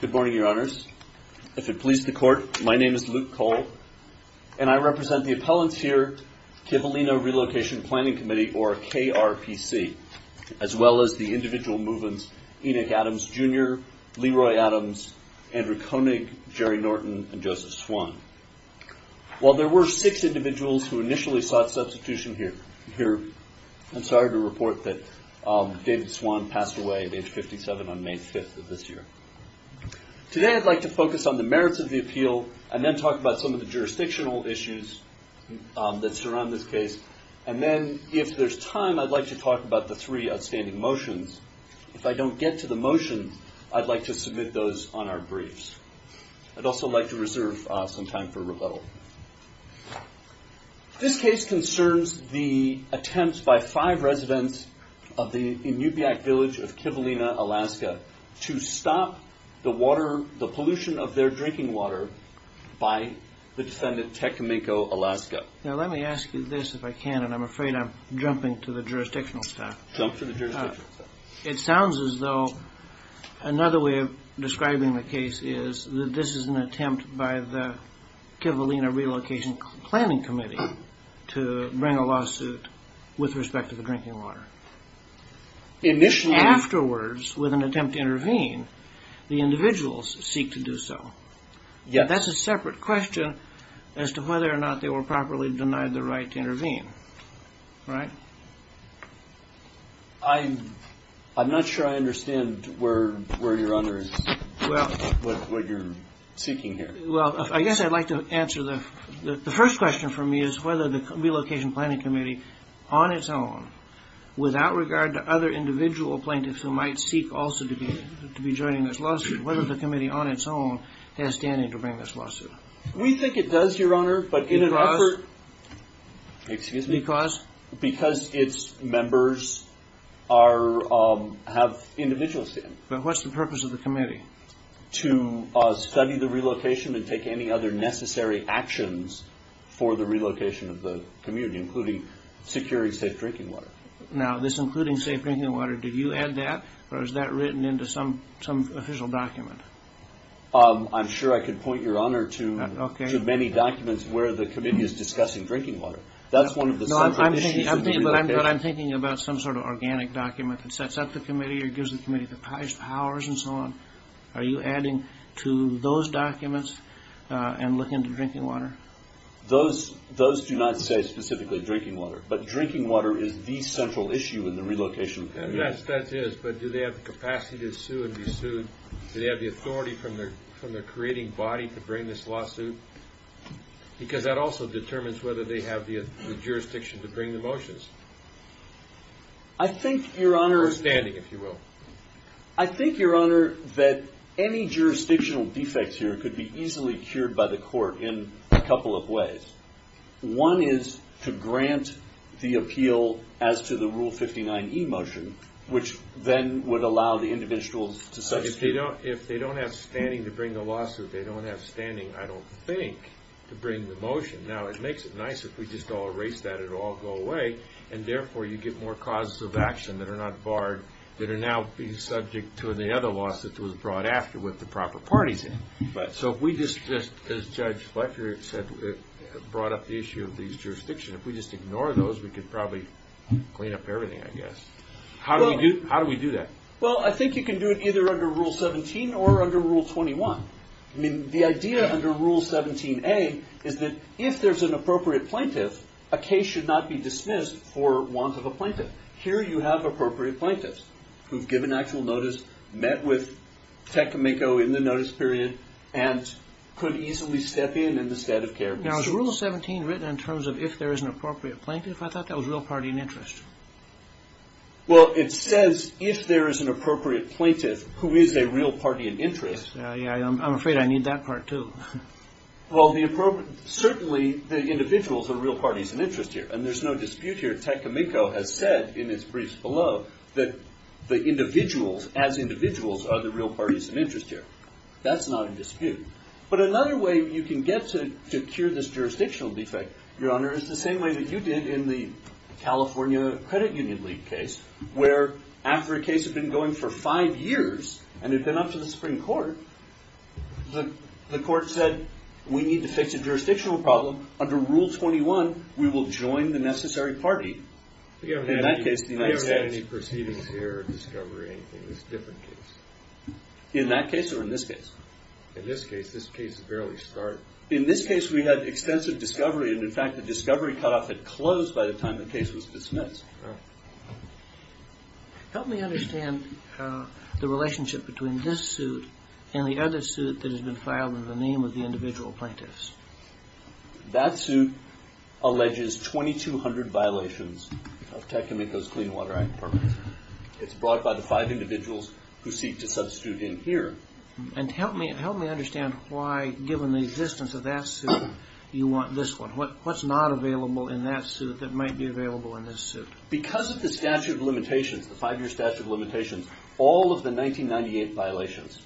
Good morning, Your Honors. If it pleases the Court, my name is Luke Cole, and I represent the Appellant's Here Kivalina Relocation Planning Committee, or KRPC, as well as the individual move-ins Enoch Adams, Jr., Leroy Adams, Andrew Koenig, Jerry Norton, and Joseph Swan. While there were six individuals who initially sought substitution here, I'm sorry to report that David Swan passed away at age 57 on May 5th of this year. Today, I'd like to focus on the merits of the appeal, and then talk about some of the jurisdictional issues that surround this case. And then, if there's time, I'd like to talk about the three outstanding motions. If I don't get to the motions, I'd like to submit those on our briefs. I'd also like to reserve some time for rebuttal. This case concerns the attempts by five residents of the Inupiaq village of Kivalina, Alaska, to stop the pollution of their drinking water by the defendant, Teck Cominco, Alaska. Now, let me ask you this, if I can, and I'm afraid I'm jumping to the jurisdictional stuff. It sounds as though another way of describing the case is that this is an attempt by the Kivalina Relocation Planning Committee to bring a lawsuit with respect to the drinking water. Afterwards, with an attempt to intervene, the individuals seek to do so. That's a separate question as to whether or not they were properly denied the right to intervene, right? I'm not sure I understand where you're under, what you're seeking here. Well, I guess I'd like to answer the first question for me, is whether the Relocation Planning Committee, on its own, without regard to other individual plaintiffs who might seek also to be joining this lawsuit, whether the committee on its own has standing to bring this lawsuit. We think it does, Your Honor, but in an effort... Because? Excuse me. Because? Because its members have individual standing. But what's the purpose of the committee? To study the relocation and take any other necessary actions for the relocation of the community, including securing safe drinking water. Now, this including safe drinking water, did you add that, or is that written into some official document? I'm sure I could point, Your Honor, to many documents where the committee is discussing drinking water. That's one of the separate issues of the relocation. No, I'm thinking about some sort of organic document that sets up the committee or gives the committee the powers and so on. Are you adding to those documents and looking into drinking water? Those do not say specifically drinking water, but drinking water is the central issue in the relocation. Yes, that is. But do they have the capacity to sue and be sued, do they have the authority from their creating body to bring this lawsuit? Because that also determines whether they have the jurisdiction to bring the motions. I think, Your Honor... I think, Your Honor, that any jurisdictional defects here could be easily cured by the court in a couple of ways. One is to grant the appeal as to the Rule 59e motion, which then would allow the individuals to... If they don't have standing to bring the lawsuit, they don't have standing, I don't think, to bring the motion. Now, it makes it nice if we just all erase that, it will all go away, and therefore you get more causes of action that are not barred that are now being subject to the other lawsuit that was brought after with the proper parties in it. So if we just, as Judge Fletcher said, brought up the issue of these jurisdictions, if we just ignore those, we could probably clean up everything, I guess. How do we do that? Well, I think you can do it either under Rule 17 or under Rule 21. The idea under Rule 17a is that if there's an appropriate plaintiff, a case should not be dismissed for want of a plaintiff. Here you have appropriate plaintiffs who've given actual notice, met with Tecumeco in the notice period, and could easily step in in the state of care. Now, is Rule 17 written in terms of if there is an appropriate plaintiff? I thought that was real party and interest. Well, it says if there is an appropriate plaintiff who is a real party and interest... Yeah, I'm afraid I need that part, too. Well, certainly the individuals are real parties and interest here, and there's no dispute here. Tecumeco has said in his briefs below that the individuals, as individuals, are the real parties and interest here. That's not a dispute. But another way you can get to cure this jurisdictional defect, Your Honor, is the same way that you did in the California Credit Union League case, where after a case had been going for a while, the court said, we need to fix a jurisdictional problem. Under Rule 21, we will join the necessary party. I never had any proceedings here or discovery or anything. It was a different case. In that case or in this case? In this case. This case has barely started. In this case, we had extensive discovery, and in fact, the discovery cutoff had closed by the time the case was dismissed. Help me understand the relationship between this suit and the other suit that has been in the name of the individual plaintiffs. That suit alleges 2,200 violations of Tecumeco's Clean Water Act. It's brought by the five individuals who seek to substitute in here. And help me understand why, given the existence of that suit, you want this one. What's not available in that suit that might be available in this suit? Because of the statute of limitations, the five-year statute of limitations, all of the violations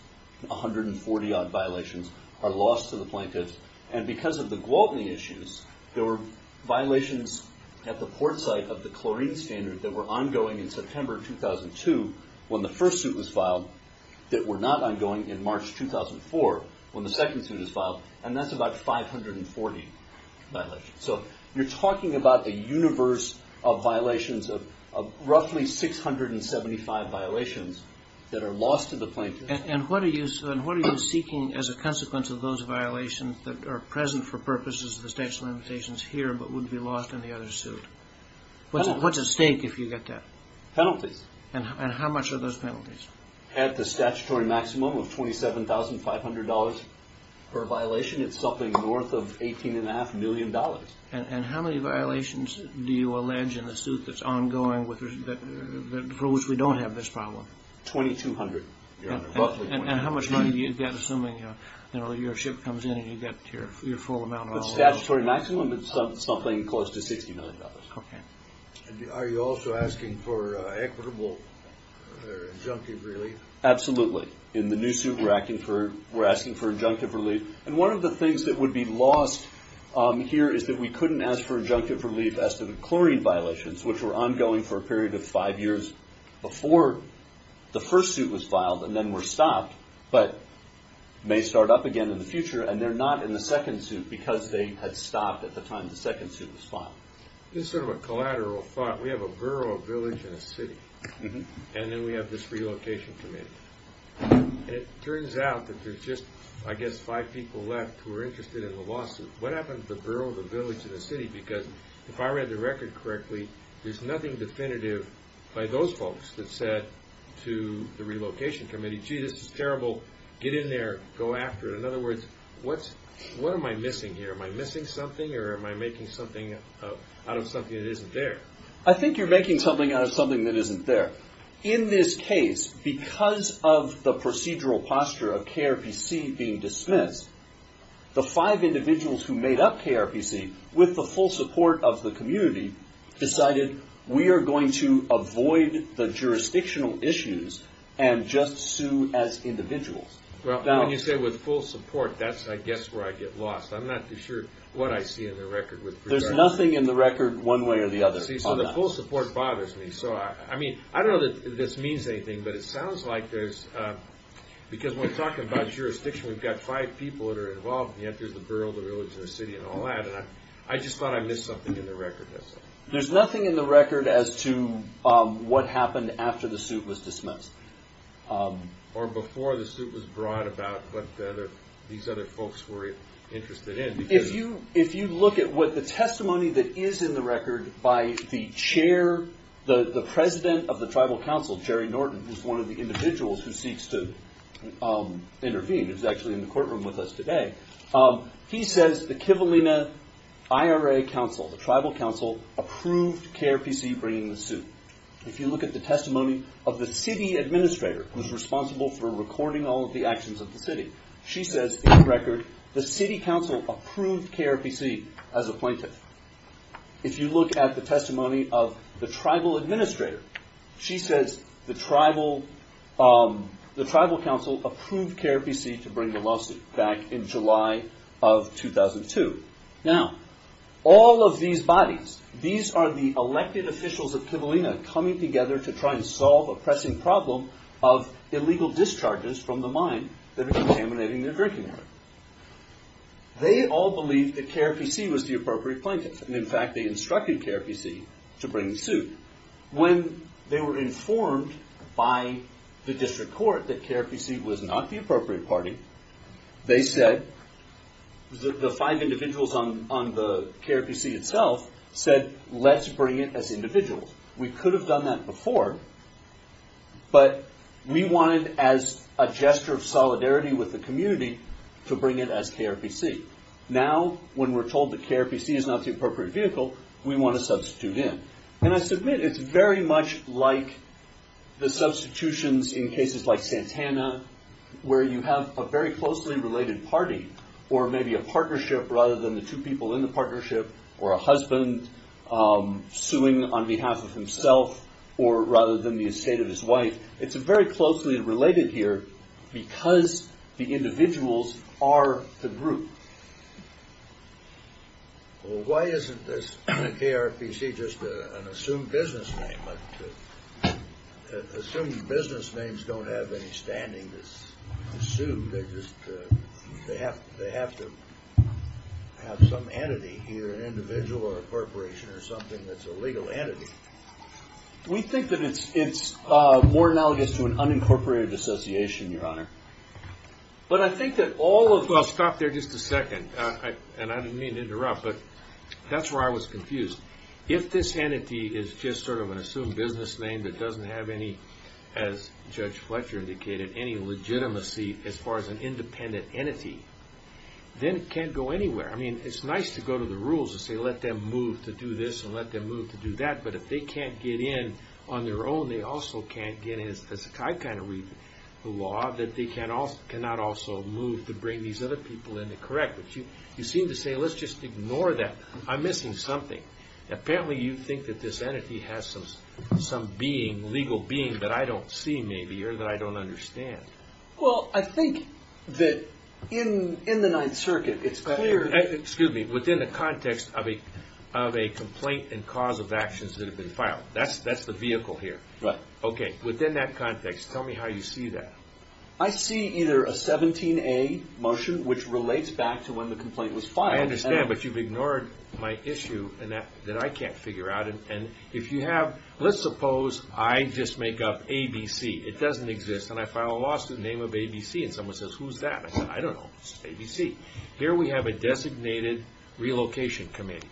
are lost to the plaintiffs. And because of the Gwaltney issues, there were violations at the port site of the chlorine standard that were ongoing in September 2002, when the first suit was filed, that were not ongoing in March 2004, when the second suit was filed. And that's about 540 violations. So you're talking about a universe of violations of roughly 675 violations that are lost to the plaintiffs. And what are you seeking as a consequence of those violations that are present for purposes of the statute of limitations here, but would be lost in the other suit? What's at stake if you get that? Penalties. And how much are those penalties? At the statutory maximum of $27,500 per violation, it's something north of $18.5 million. And how many violations do you allege in the suit that's ongoing for which we don't have this problem? 2,200, Your Honor. And how much money do you get assuming your ship comes in and you get your full amount? The statutory maximum is something close to $60 million. Are you also asking for equitable injunctive relief? Absolutely. In the new suit, we're asking for injunctive relief. And one of the things that would be lost here is that we couldn't ask for injunctive relief as to the chlorine violations, which were ongoing for a period of five years before the first suit was filed and then were stopped, but may start up again in the future. And they're not in the second suit because they had stopped at the time the second suit was filed. This is sort of a collateral thought. We have a borough, a village, and a city. And then we have this relocation committee. It turns out that there's just, I guess, five people left who are interested in the lawsuit. What happened to the borough, the village, and the city? Because if I read the record correctly, there's nothing definitive by those folks that said to the relocation committee, gee, this is terrible. Get in there. Go after it. In other words, what am I missing here? Am I missing something or am I making something out of something that isn't there? I think you're making something out of something that isn't there. In this case, because of the procedural posture of KRPC being dismissed, the five individuals who made up KRPC with the full support of the community decided, we are going to avoid the jurisdictional issues and just sue as individuals. Well, when you say with full support, that's, I guess, where I get lost. I'm not too sure what I see in the record with regard to that. There's nothing in the record one way or the other on that. See, so the full support bothers me. So, I mean, I don't know that this means anything, but it sounds like there's, because when we're talking about jurisdiction, we've got five people that are involved, and yet there's the borough, the village, and the city, and all that. And I just thought I missed something in the record. There's nothing in the record as to what happened after the suit was dismissed. Or before the suit was brought about, what these other folks were interested in. If you look at what the testimony that is in the record by the chair, the president of the tribal council, Jerry Norton, who's one of the individuals who seeks to intervene, who's actually in the courtroom with us today, he says the Kivalina IRA council, the tribal council, approved KRPC bringing the suit. If you look at the testimony of the city administrator, who's responsible for recording all of the actions of the city, she says, in the record, the city council approved KRPC as a plaintiff. If you look at the testimony of the tribal administrator, she says the tribal council approved KRPC to bring the lawsuit back in July of 2002. Now, all of these bodies, these are the elected officials of Kivalina coming together to try and solve a pressing problem of illegal discharges from the mine that are contaminating their drinking water. They all believed that KRPC was the appropriate plaintiff. And in fact, they instructed KRPC to bring the suit. When they were informed by the district court that KRPC was not the appropriate party, they said, the five individuals on the KRPC itself said, let's bring it as individuals. We could have done that before, but we wanted, as a gesture of solidarity with the community, to bring it as KRPC. Now, when we're told that KRPC is not the appropriate vehicle, we want to substitute them. And I submit it's very much like the substitutions in cases like Santana, where you have a very closely related party, or maybe a partnership rather than the two people in the partnership, or a husband suing on behalf of himself, or rather than the estate of his wife. It's very closely related here because the individuals are the group. Well, why isn't this KRPC just an assumed business name? Assumed business names don't have any standing to sue. They have to have some entity here, an individual or a corporation or something that's a legal entity. We think that it's more analogous to an unincorporated association, Your Honor. But I think that all of... Well, stop there just a second. And I didn't mean to interrupt, but that's where I was confused. If this entity is just sort of an assumed business name that doesn't have any, as Judge Fletcher indicated, any legitimacy as far as an independent entity, then it can't go anywhere. I mean, it's nice to go to the rules and say, let them move to do this and let them move to do that. But if they can't get in on their own, they also can't get in. I kind of read the law that they cannot also move to bring these other people in to correct. But you seem to say, let's just ignore that. I'm missing something. Apparently, you think that this entity has some being, legal being, that I don't see maybe or that I don't understand. Well, I think that in the Ninth Circuit, it's clear... Excuse me. Within the context of a complaint and cause of actions that have been filed. That's the vehicle here. Right. Okay. Within that context, tell me how you see that. I see either a 17A motion, which relates back to when the complaint was filed. I understand, but you've ignored my issue that I can't figure out. And if you have... Let's suppose I just make up ABC. It doesn't exist. And I file a lawsuit in the name of ABC and someone says, who's that? I said, I don't know. It's ABC. Here we have a designated relocation committee.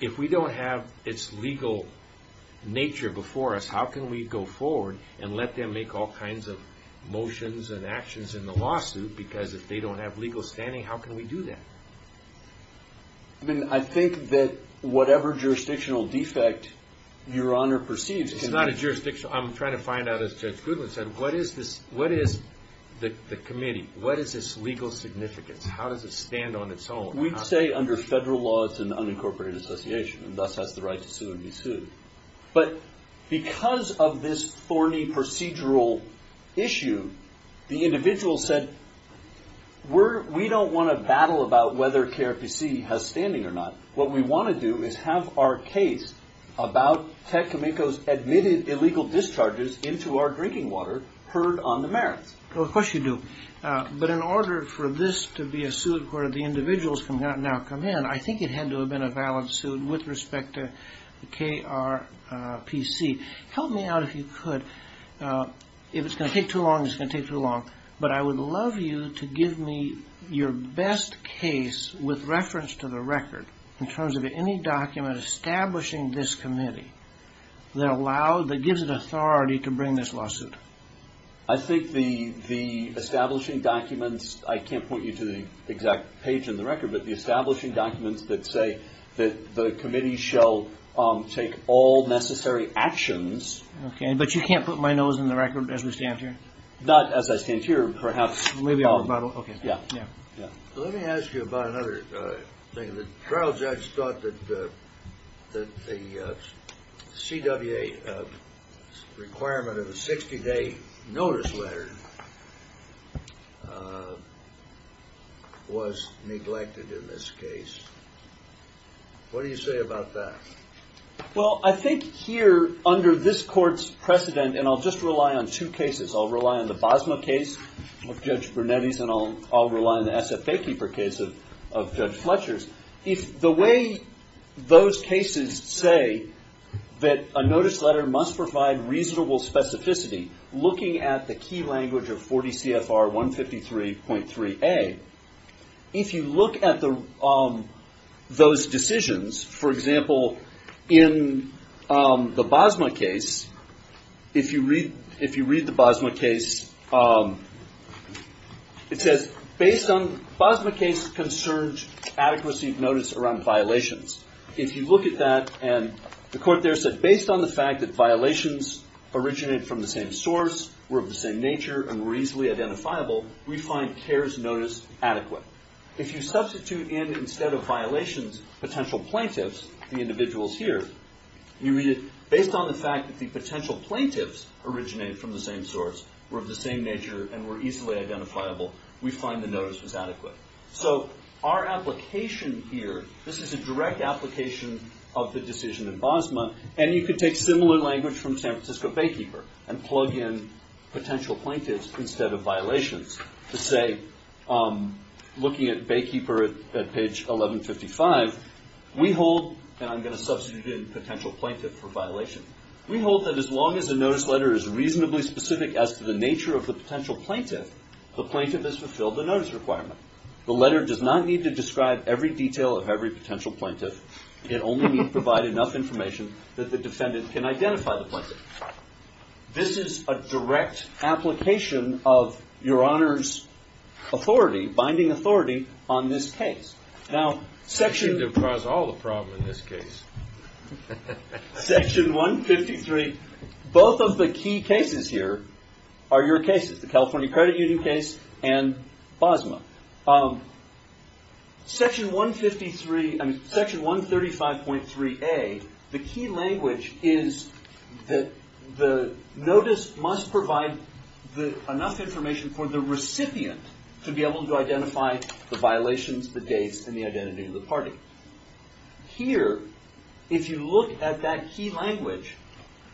If we don't have its legal nature before us, how can we go forward and let them make all kinds of motions and actions in the lawsuit? Because if they don't have legal standing, how can we do that? I think that whatever jurisdictional defect your Honor perceives... It's not a jurisdictional... I'm trying to find out, as Judge Goodwin said, what is the committee? What is its legal significance? How does it stand on its own? We'd say under federal laws and unincorporated association, and thus has the right to sue and be sued. But because of this thorny procedural issue, the individual said, we don't want to battle about whether KRPC has standing or not. What we want to do is have our case about Ted Kaminko's admitted illegal discharges into our drinking water heard on the merits. Of course you do. But in order for this to be a suit where the individuals can now come in, I think it had to have been a valid suit with respect to KRPC. Help me out if you could. If it's going to take too long, it's going to take too long. But I would love you to give me your best case with reference to the record in terms of any document establishing this committee that gives it authority to bring this lawsuit. I think the establishing documents, I can't point you to the exact page in the record, but the establishing documents that say that the committee shall take all necessary actions. But you can't put my nose in the record as we stand here? Not as I stand here, perhaps. Let me ask you about another thing. The trial judge thought that the CWA requirement of a 60-day notice letter was neglected in this case. What do you say about that? Well, I think here under this court's precedent, and I'll just rely on two cases. I'll rely on the Bosma case of Judge Brunetti's, and I'll rely on the SFA Keeper case of Judge Fletcher's. The way those cases say that a notice letter must provide reasonable specificity, looking at the key language of 40 CFR 153.3a, if you look at those decisions, for example, in the Bosma case, if you read the Bosma case, it says, Bosma case concerns adequacy of notice around violations. If you look at that, and the court there said, based on the fact that violations originated from the same source, were of the same nature, and were easily identifiable, we find CARES notice adequate. If you substitute in, instead of violations, potential plaintiffs, the individuals here, you read it, based on the fact that the potential plaintiffs originated from the same source, were of the same nature, and were easily identifiable, we find the notice was adequate. So our application here, this is a direct application of the decision in Bosma, and you could take similar language from San Francisco Baykeeper, and plug in potential plaintiffs instead of violations. Let's say, looking at Baykeeper at page 1155, we hold, and I'm going to substitute in potential plaintiff for violation, we hold that as long as the notice letter is reasonably specific as to the nature of the potential plaintiff, the plaintiff has fulfilled the notice requirement. The letter does not need to describe every detail of every potential plaintiff. It only needs to provide enough information that the defendant can identify the plaintiff. This is a direct application of Your Honor's authority, binding authority, on this case. Now, section... You seem to have caused all the problems in this case. Section 153, both of the key cases here are your cases, the California Credit Union case and Bosma. Section 153, I mean, Section 135.3A, the key language is that the notice must provide enough information for the recipient to be able to identify the violations, the dates, and the identity of the party. Here, if you look at that key language,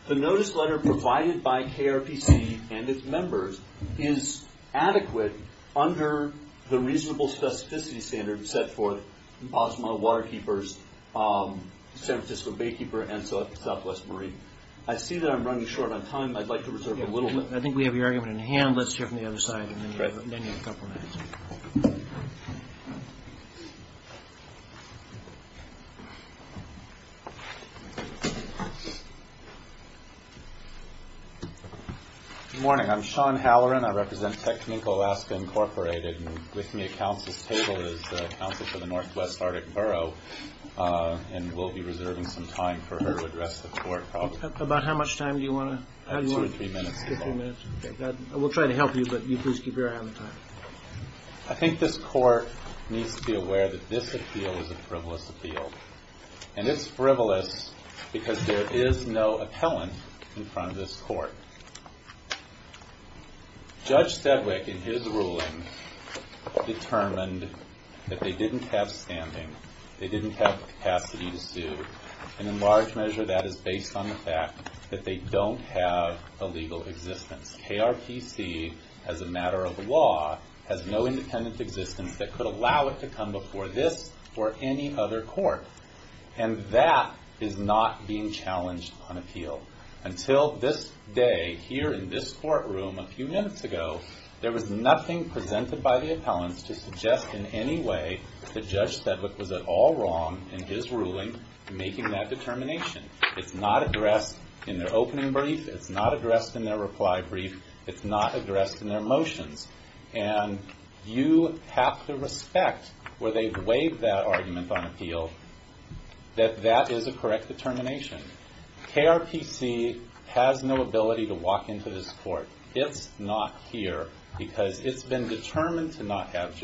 the notice letter provided by KRPC and its members is adequate under the reasonable specificity standard set for Bosma, Waterkeepers, San Francisco Baykeeper, and Southwest Marine. I see that I'm running short on time. I'd like to reserve a little bit. I think we have your argument in hand. Let's hear from the other side, and then you have a couple minutes. Good morning. I'm Sean Halloran. I represent Technique Alaska, Incorporated. With me at counsel's table is counsel for the Northwest Arctic Borough, and we'll be reserving some time for her to address the court problem. About how much time do you want to... Two or three minutes is all right. We'll try to help you, but you please keep your eye on the time. I think this court needs to be aware that this appeal is a frivolous appeal, and it's frivolous because there is no appellant in front of this court. Judge Stedwick, in his ruling, determined that they didn't have standing, they didn't have the capacity to sue, and in large measure that is based on the fact that they don't have a legal existence. KRPC, as a matter of law, has no independent existence that could allow it to come before this or any other court, and that is not being challenged on appeal. Until this day, here in this courtroom, a few minutes ago, there was nothing presented by the appellants to suggest in any way that Judge Stedwick was at all wrong in his ruling making that determination. It's not addressed in their opening brief, it's not addressed in their reply brief, it's not addressed in their motions, and you have to respect, where they've waived that argument on appeal, that that is a correct determination. KRPC has no ability to walk into this court. It's not here because it's been determined to not have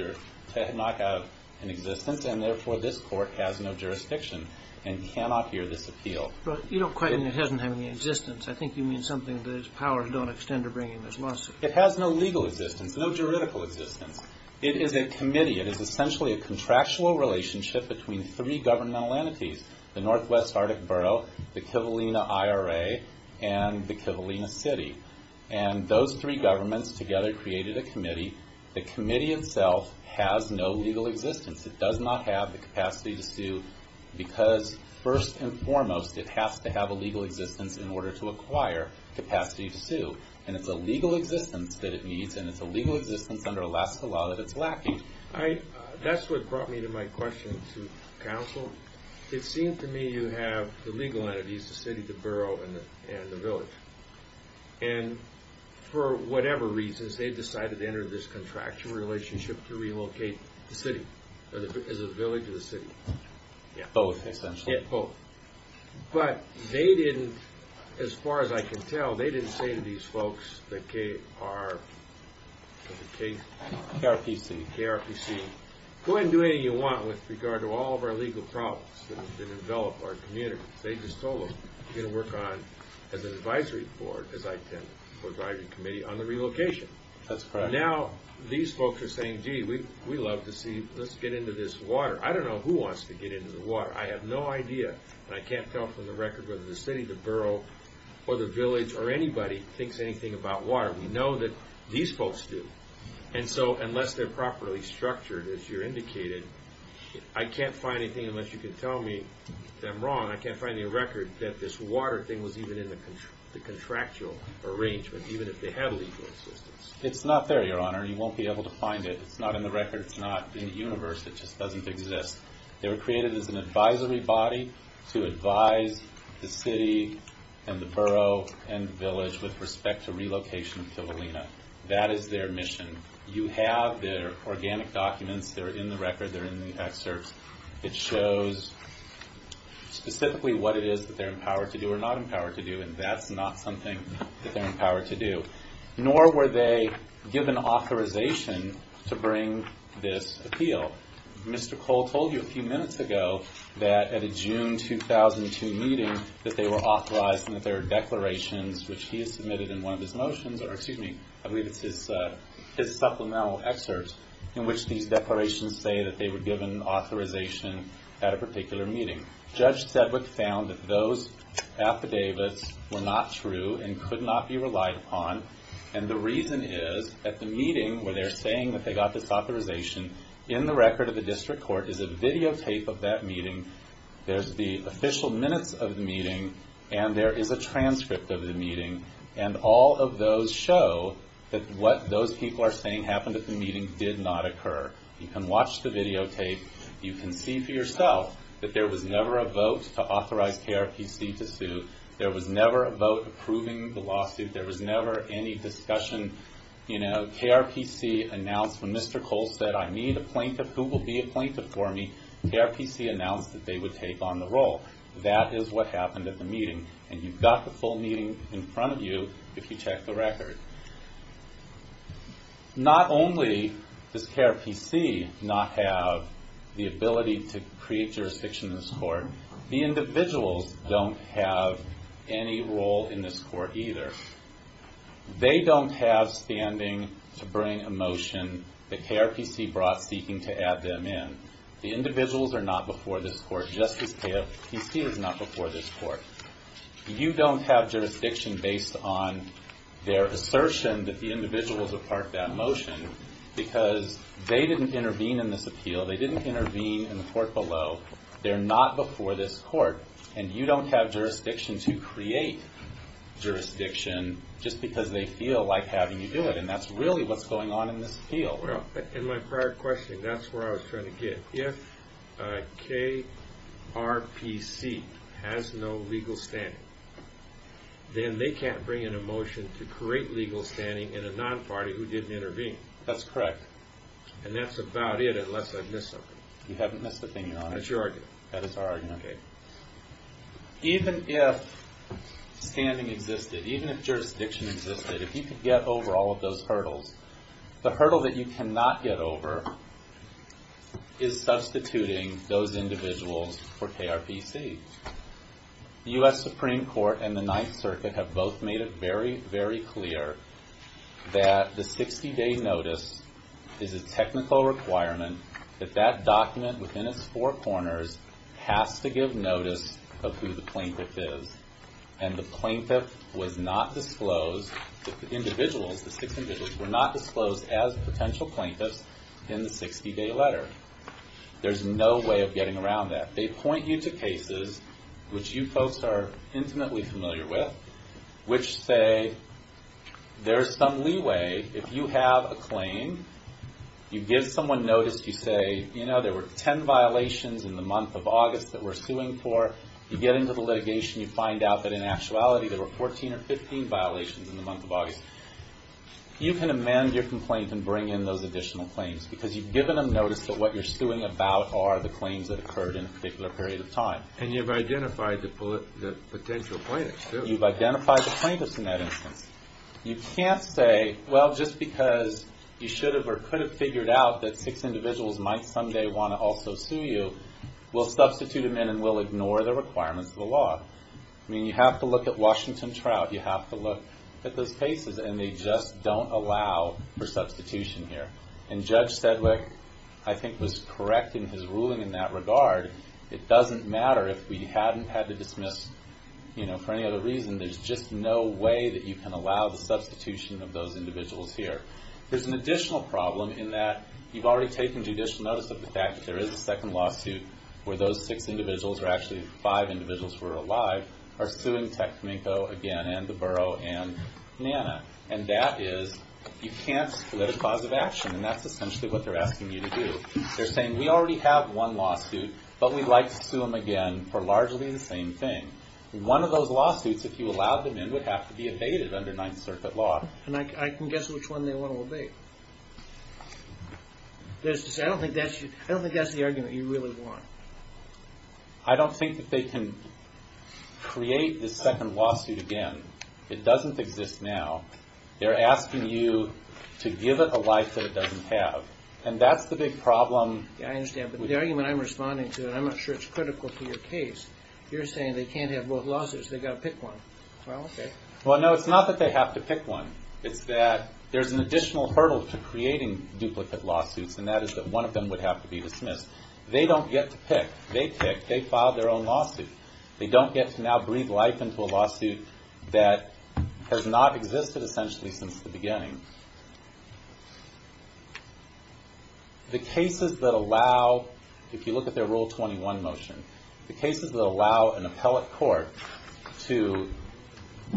an existence, and therefore this court has no jurisdiction and cannot hear this appeal. But you don't quite mean it doesn't have any existence. I think you mean something that its powers don't extend to bringing this lawsuit. It has no legal existence, no juridical existence. It is a committee. It is essentially a contractual relationship between three governmental entities, the Northwest Arctic Borough, the Kivalina IRA, and the Kivalina City. And those three governments together created a committee. The committee itself has no legal existence. It does not have the capacity to sue because first and foremost, it has to have a legal existence in order to acquire capacity to sue. And it's a legal existence that it needs, and it's a legal existence under Alaska law that it's lacking. That's what brought me to my question to counsel. It seemed to me you have the legal entities, the city, the borough, and the village. And for whatever reasons, they decided to enter this contractual relationship to relocate the city, as a village to the city. Both, essentially. But they didn't, as far as I can tell, they didn't say to these folks, the KRPC, go ahead and do anything you want with regard to all of our legal problems that envelop our community. They just told them, you're going to work on, as an advisory board, as I tend to, for a driving committee, on the relocation. That's correct. Now, these folks are saying, gee, we love to see, let's get into this water. I don't know who wants to get into the water. I have no idea. And I can't tell from the record whether the city, the borough, or the village, or anybody, thinks anything about water. We know that these folks do. And so, unless they're properly structured, as you indicated, I can't find anything, unless you can tell me that I'm wrong, I can't find any record that this water thing was even in the contractual arrangement, even if they had legal existence. It's not there, Your Honor. You won't be able to find it. It's not in the record. It's not in the universe. It just doesn't exist. They were created as an advisory body to advise the city, and the borough, and the village, with respect to relocation of Kivalina. That is their mission. You have their organic documents. They're in the record. They're in the excerpts. It shows specifically what it is that they're empowered to do, or not empowered to do, and that's not something that they're empowered to do. Nor were they given authorization to bring this appeal. Mr. Cole told you a few minutes ago that at a June 2002 meeting that they were authorized and that there were declarations, which he has submitted in one of his motions, or excuse me, I believe it's his supplemental excerpt, in which these declarations say that they were given authorization at a particular meeting. Judge Sedwick found that those affidavits were not true and could not be relied upon, and the reason is at the meeting where they're saying that they got this authorization, in the record of the district court is a videotape of that meeting. There's the official minutes of the meeting, and there is a transcript of the meeting, and all of those show that what those people are saying happened at the meeting did not occur. You can watch the videotape. You can see for yourself that there was never a vote to authorize KRPC to sue. There was never a vote approving the lawsuit. There was never any discussion. KRPC announced when Mr. Cole said I need a plaintiff. Who will be a plaintiff for me? KRPC announced that they would take on the role. That is what happened at the meeting, and you've got the full meeting in front of you if you check the record. Not only does KRPC not have the ability to create jurisdiction in this court, the individuals don't have any role in this court either. They don't have standing to bring a motion that KRPC brought seeking to add them in. The individuals are not before this court just as KRPC is not before this court. You don't have jurisdiction based on their assertion that the individuals have parked that motion because they didn't intervene in this appeal. They didn't intervene in the court below. They're not before this court, and you don't have jurisdiction to create jurisdiction just because they feel like having you do it, and that's really what's going on in this appeal. In my prior questioning, that's where I was trying to get. If KRPC has no legal standing, then they can't bring in a motion to create legal standing in a non-party who didn't intervene. That's correct. And that's about it, unless I've missed something. You haven't missed a thing. That's your argument. That is our argument. Okay. Even if standing existed, even if jurisdiction existed, if you could get over all of those hurdles, the hurdle that you cannot get over is substituting those individuals for KRPC. The U.S. Supreme Court and the Ninth Circuit have both made it very, very clear that the 60-day notice is a technical requirement that that document within its four corners has to give notice of who the plaintiff is. And the plaintiff was not disclosed, the individuals, the six individuals were not disclosed as potential plaintiffs in the 60-day letter. There's no way of getting around that. They point you to cases which you folks are intimately familiar with, which say there's some leeway if you have a claim, you give someone notice, you say, you know, there were 10 violations in the month of August that we're suing for. You get into the litigation, you find out that in actuality there were 14 or 15 violations in the month of August. You can amend your complaint and bring in those additional claims because you've given them notice that what you're suing about are the claims that occurred in a particular period of time. And you've identified the potential plaintiffs, too. You've identified the plaintiffs in that instance. You can't say, well, just because you should have or could have figured out that six individuals might someday want to also sue you, we'll substitute them in and we'll ignore the requirements of the law. I mean, you have to look at Washington Trout. You have to look at those cases and they just don't allow for substitution here. And Judge Sedwick, I think, was correct in his ruling in that regard. It doesn't matter if we hadn't had to dismiss for any other reason. There's just no way that you can allow the substitution of those individuals here. There's an additional problem in that you've already taken judicial notice of the fact that there is a second lawsuit where those six individuals or actually five individuals were alive are suing Techminco again and the borough and NANA. And that is you can't split a cause of action and that's essentially what they're asking you to do. They're saying, we already have one lawsuit but we'd like to sue them again for largely the same thing. One of those lawsuits, if you allowed them in, would have to be evaded under Ninth Circuit law. And I can guess which one they want to obey. I don't think that's the argument you really want. I don't think that they can create this second lawsuit again. It doesn't exist now. They're asking you to give it a life that it doesn't have. And that's the big problem. Yeah, I understand. But the argument I'm responding to and I'm not sure it's critical to your case, you're saying they can't have both lawsuits they've got to pick one. Well, okay. Well, no, it's not that they have to pick one. It's that there's an additional hurdle to creating duplicate lawsuits and that is that one of them would have to be dismissed. They don't get to pick. They pick. They file their own lawsuit. They don't get to now breathe life into a lawsuit that has not existed essentially since the beginning. The cases that allow if you look at their Rule 21 motion, the cases that allow an appellate court to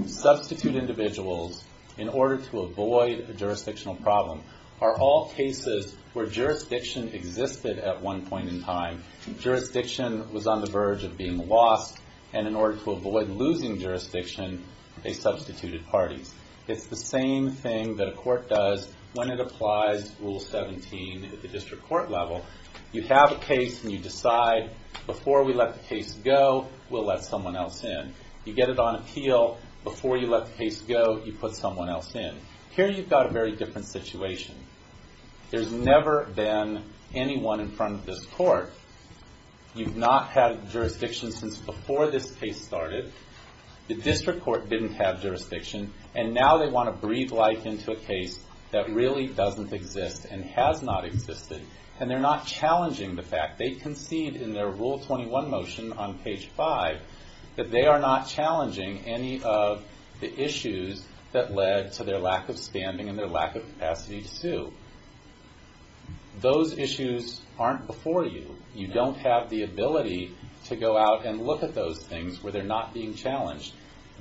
substitute individuals in order to avoid a jurisdictional problem are all cases where jurisdiction existed at one point in time. Jurisdiction was on the verge of being lost and in order to avoid losing jurisdiction they substituted parties. It's the same thing that a court does when it applies Rule 17 at the district court level. You have a case and you decide before we let the case go we'll let someone else in. Here you've got a very different situation. There's never been anyone in front of this court. You've not had jurisdiction since before this case started. The district court didn't have jurisdiction and now they want to breathe life into a case that really doesn't exist and has not existed and they're not challenging the fact they concede in their Rule 21 motion on page 5 that they are not challenging any of the issues that led to their lack of standing and their lack of capacity to sue. Those issues aren't before you. You don't have the ability to go out and look at those things where they're not being challenged.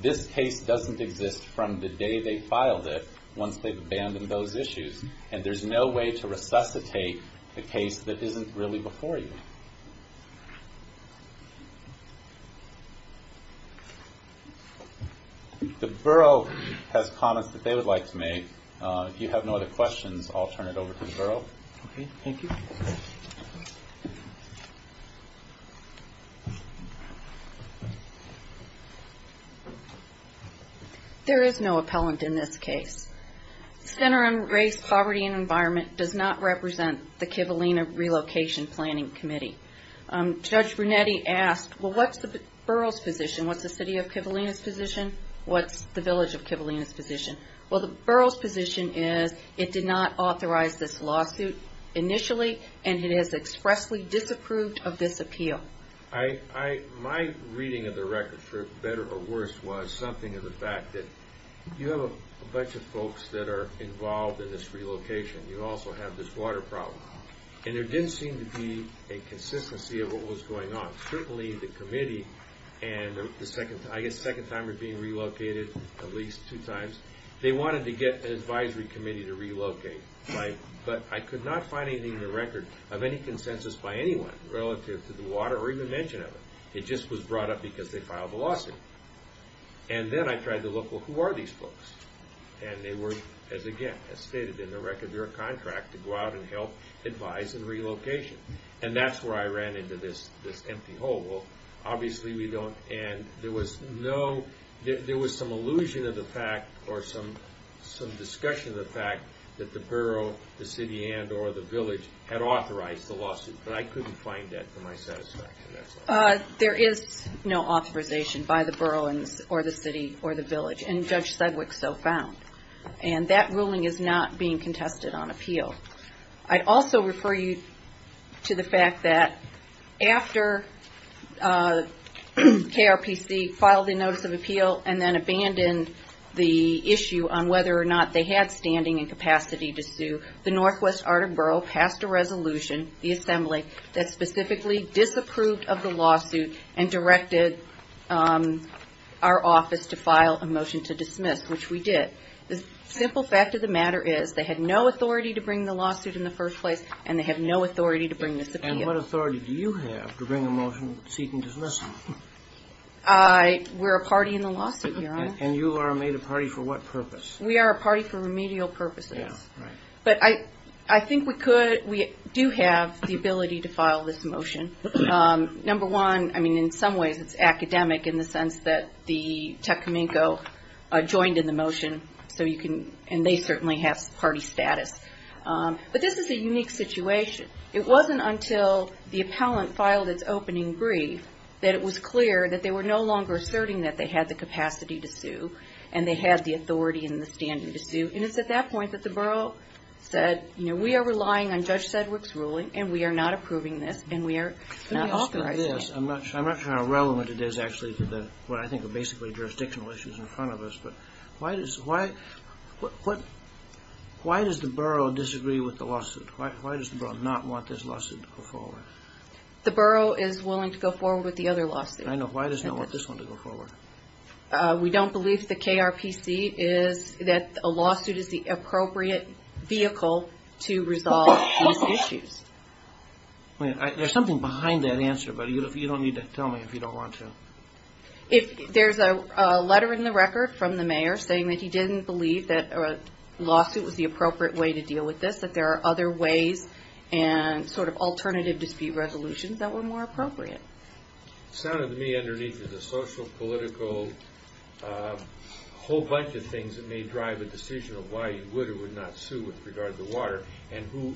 This case doesn't exist from the day they filed it once they've abandoned those issues and there's no way to resuscitate a case that isn't really before you. The borough has comments that they would like to make. If you have no other questions I'll turn it over to the borough. Thank you. There is no appellant in this case. Center on Race, Poverty and the Kivalina Relocation Planning Committee. Judge Brunetti asked, well what's the borough's position? What's the city of Kivalina's position? What's the village of Kivalina's position? Well the borough's position is it did not authorize this lawsuit initially and it has expressly disapproved of this appeal. My reading of the record for better or worse was something of the fact that you have a bunch of folks that are involved in this relocation. You also have this water problem. And there didn't seem to be a consistency of what was going on. Certainly the committee and the second time being relocated at least two times, they wanted to get an advisory committee to relocate. But I could not find anything in the record of any consensus by anyone relative to the water or even mention of it. It just was brought up because they filed the lawsuit. And then I tried to look, well who are these folks? And they were, as stated in the record, they were a contract to go out and help advise in relocation. And that's where I ran into this empty hole. Well obviously we don't, and there was no, there was some illusion of the fact or some discussion of the fact that the borough, the city and or the village had authorized the lawsuit. But I couldn't find that to my satisfaction. There is no authorization by the borough or the city or the village. And Judge Sedgwick so found. And that ruling is not being contested on appeal. I also refer you to the fact that after KRPC filed the notice of appeal and then abandoned the issue on whether or not they had a standing and capacity to sue. The Northwest Arden Borough passed a resolution, the assembly that specifically disapproved of the lawsuit and directed our office to file a motion to dismiss, which we did. The simple fact of the matter is they had no authority to bring the lawsuit in the first place and they have no authority to bring the lawsuit in the first place. And you are made a party for what purpose? We are a party for remedial purposes. But I think we do have the ability to file this motion. Number one in some ways it's academic in the sense that the Tecumseh joined in the motion and they certainly have party status. But this is a unique situation. It wasn't until the appellant filed its opening brief that it was clear that they were no longer asserting that they had the capacity to sue the Tecumseh. Why does the borough disagree with the lawsuit? Why does the borough not want this lawsuit to go forward? The borough is willing to go forward with the other lawsuit. Why does not want this one to go forward? We don't believe the KRPC is that a lawsuit is the appropriate vehicle to resolve these issues. There's something behind that answer but you don't need to tell me if you don't want to. There's a letter in the record from the mayor saying that he didn't believe that a lawsuit was the appropriate way to deal with this that there are other ways and alternative dispute resolutions that were more appropriate. It sounded to me underneath a social political whole bunch of things that may drive a decision of why you would or would not want to deal with this issue.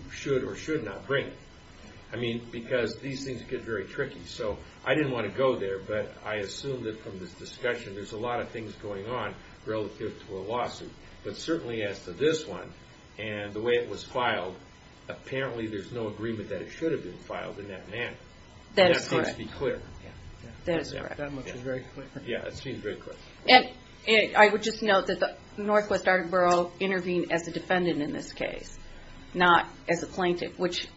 I would just note that Northwest Arboro intervened as a defendant in this case. Not as a plaintiff which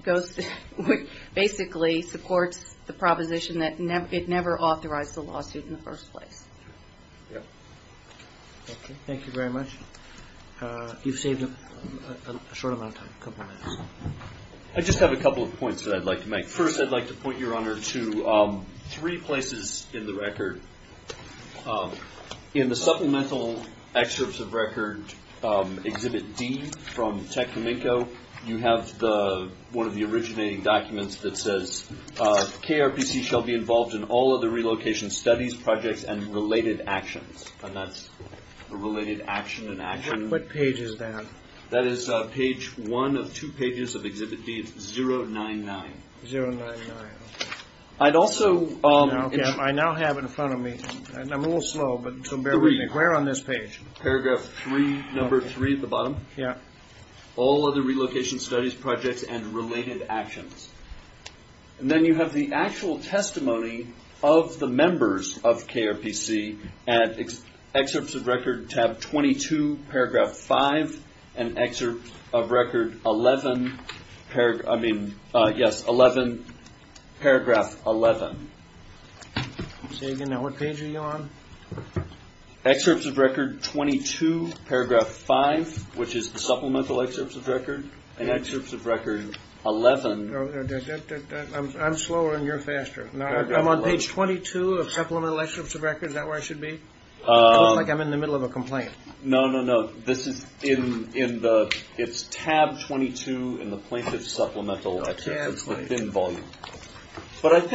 basically supports the proposition that it never authorized the lawsuit in the first place. Thank you very much. You've saved a short amount of time. I just have a couple of points I'd like to make. First I'd like to point your honor to three relocation studies projects and related actions. What page is that? That is page one of two pages of exhibit B. It's 099. I now have in front of me where on this page? Paragraph three at the bottom. All other relocation studies projects and related actions. And then you have the actual testimony of the members of KRPC at excerpts of record tab 22 paragraph 5 and excerpts of record 11 paragraph 11. Say excerpts of record 11. I'm slower and you're faster. I'm on page 22 of supplemental excerpts of record. Is that where I should be? It looks like I'm in the middle of a complaint. No, no, no. It's tab 22 in the plaintiff paragraph 5. The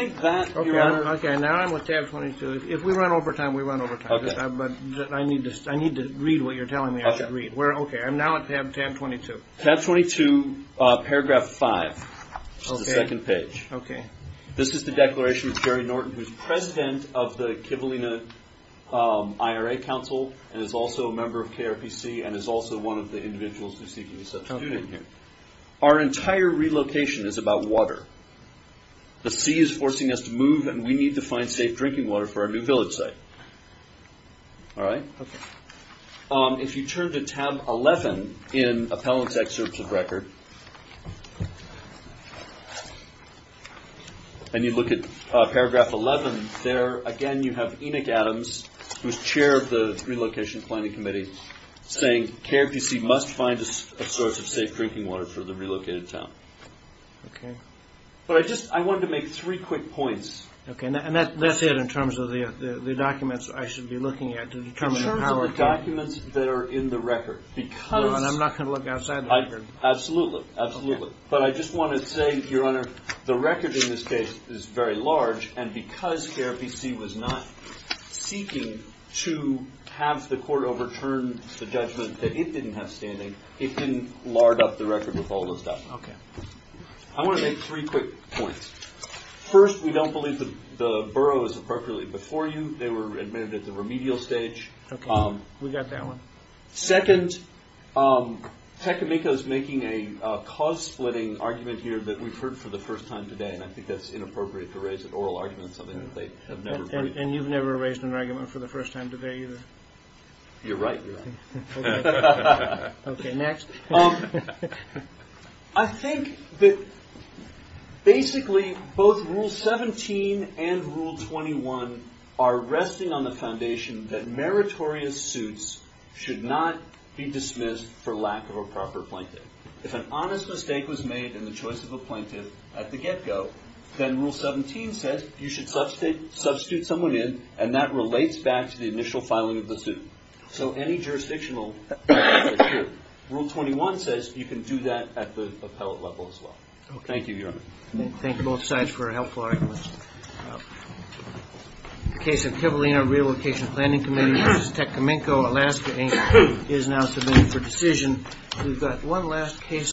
second page. This is the declaration of Jerry Norton who's president of the Kivalina IRA Council and is also a member of KRPC and is also one of the individuals who seek to be substituted here. Our entire relocation is about water. The sea is forcing us to move and we need to find safe drinking water for our new village site. If you turn to tab 11 in appellant's excerpts of record and you look at paragraph 11, there again you have Enoch Adams who's chair of the KRPC Council is also a member of the Kivalina IRA Council and is also a member of the KRPC Council and is also a member and also of the KRPC Council and is also a member of the Kivalina IRA Council and is also a member of KRPC Council. I think that basically both Rule 17 and Rule 21 are resting on the foundation that meritorious suits should not be dismissed for lack of a proper plaintiff if an honest mistake was made in the choice of a plaintiff and should not dismissed plaintiff mistake was made in the choice of a plaintiff if an honest mistake was made in the choice of a plaintiff if an honest mistake of a plaintiff if an honest mistake was made in the choice of a plaintiff should not dismissed for lack of a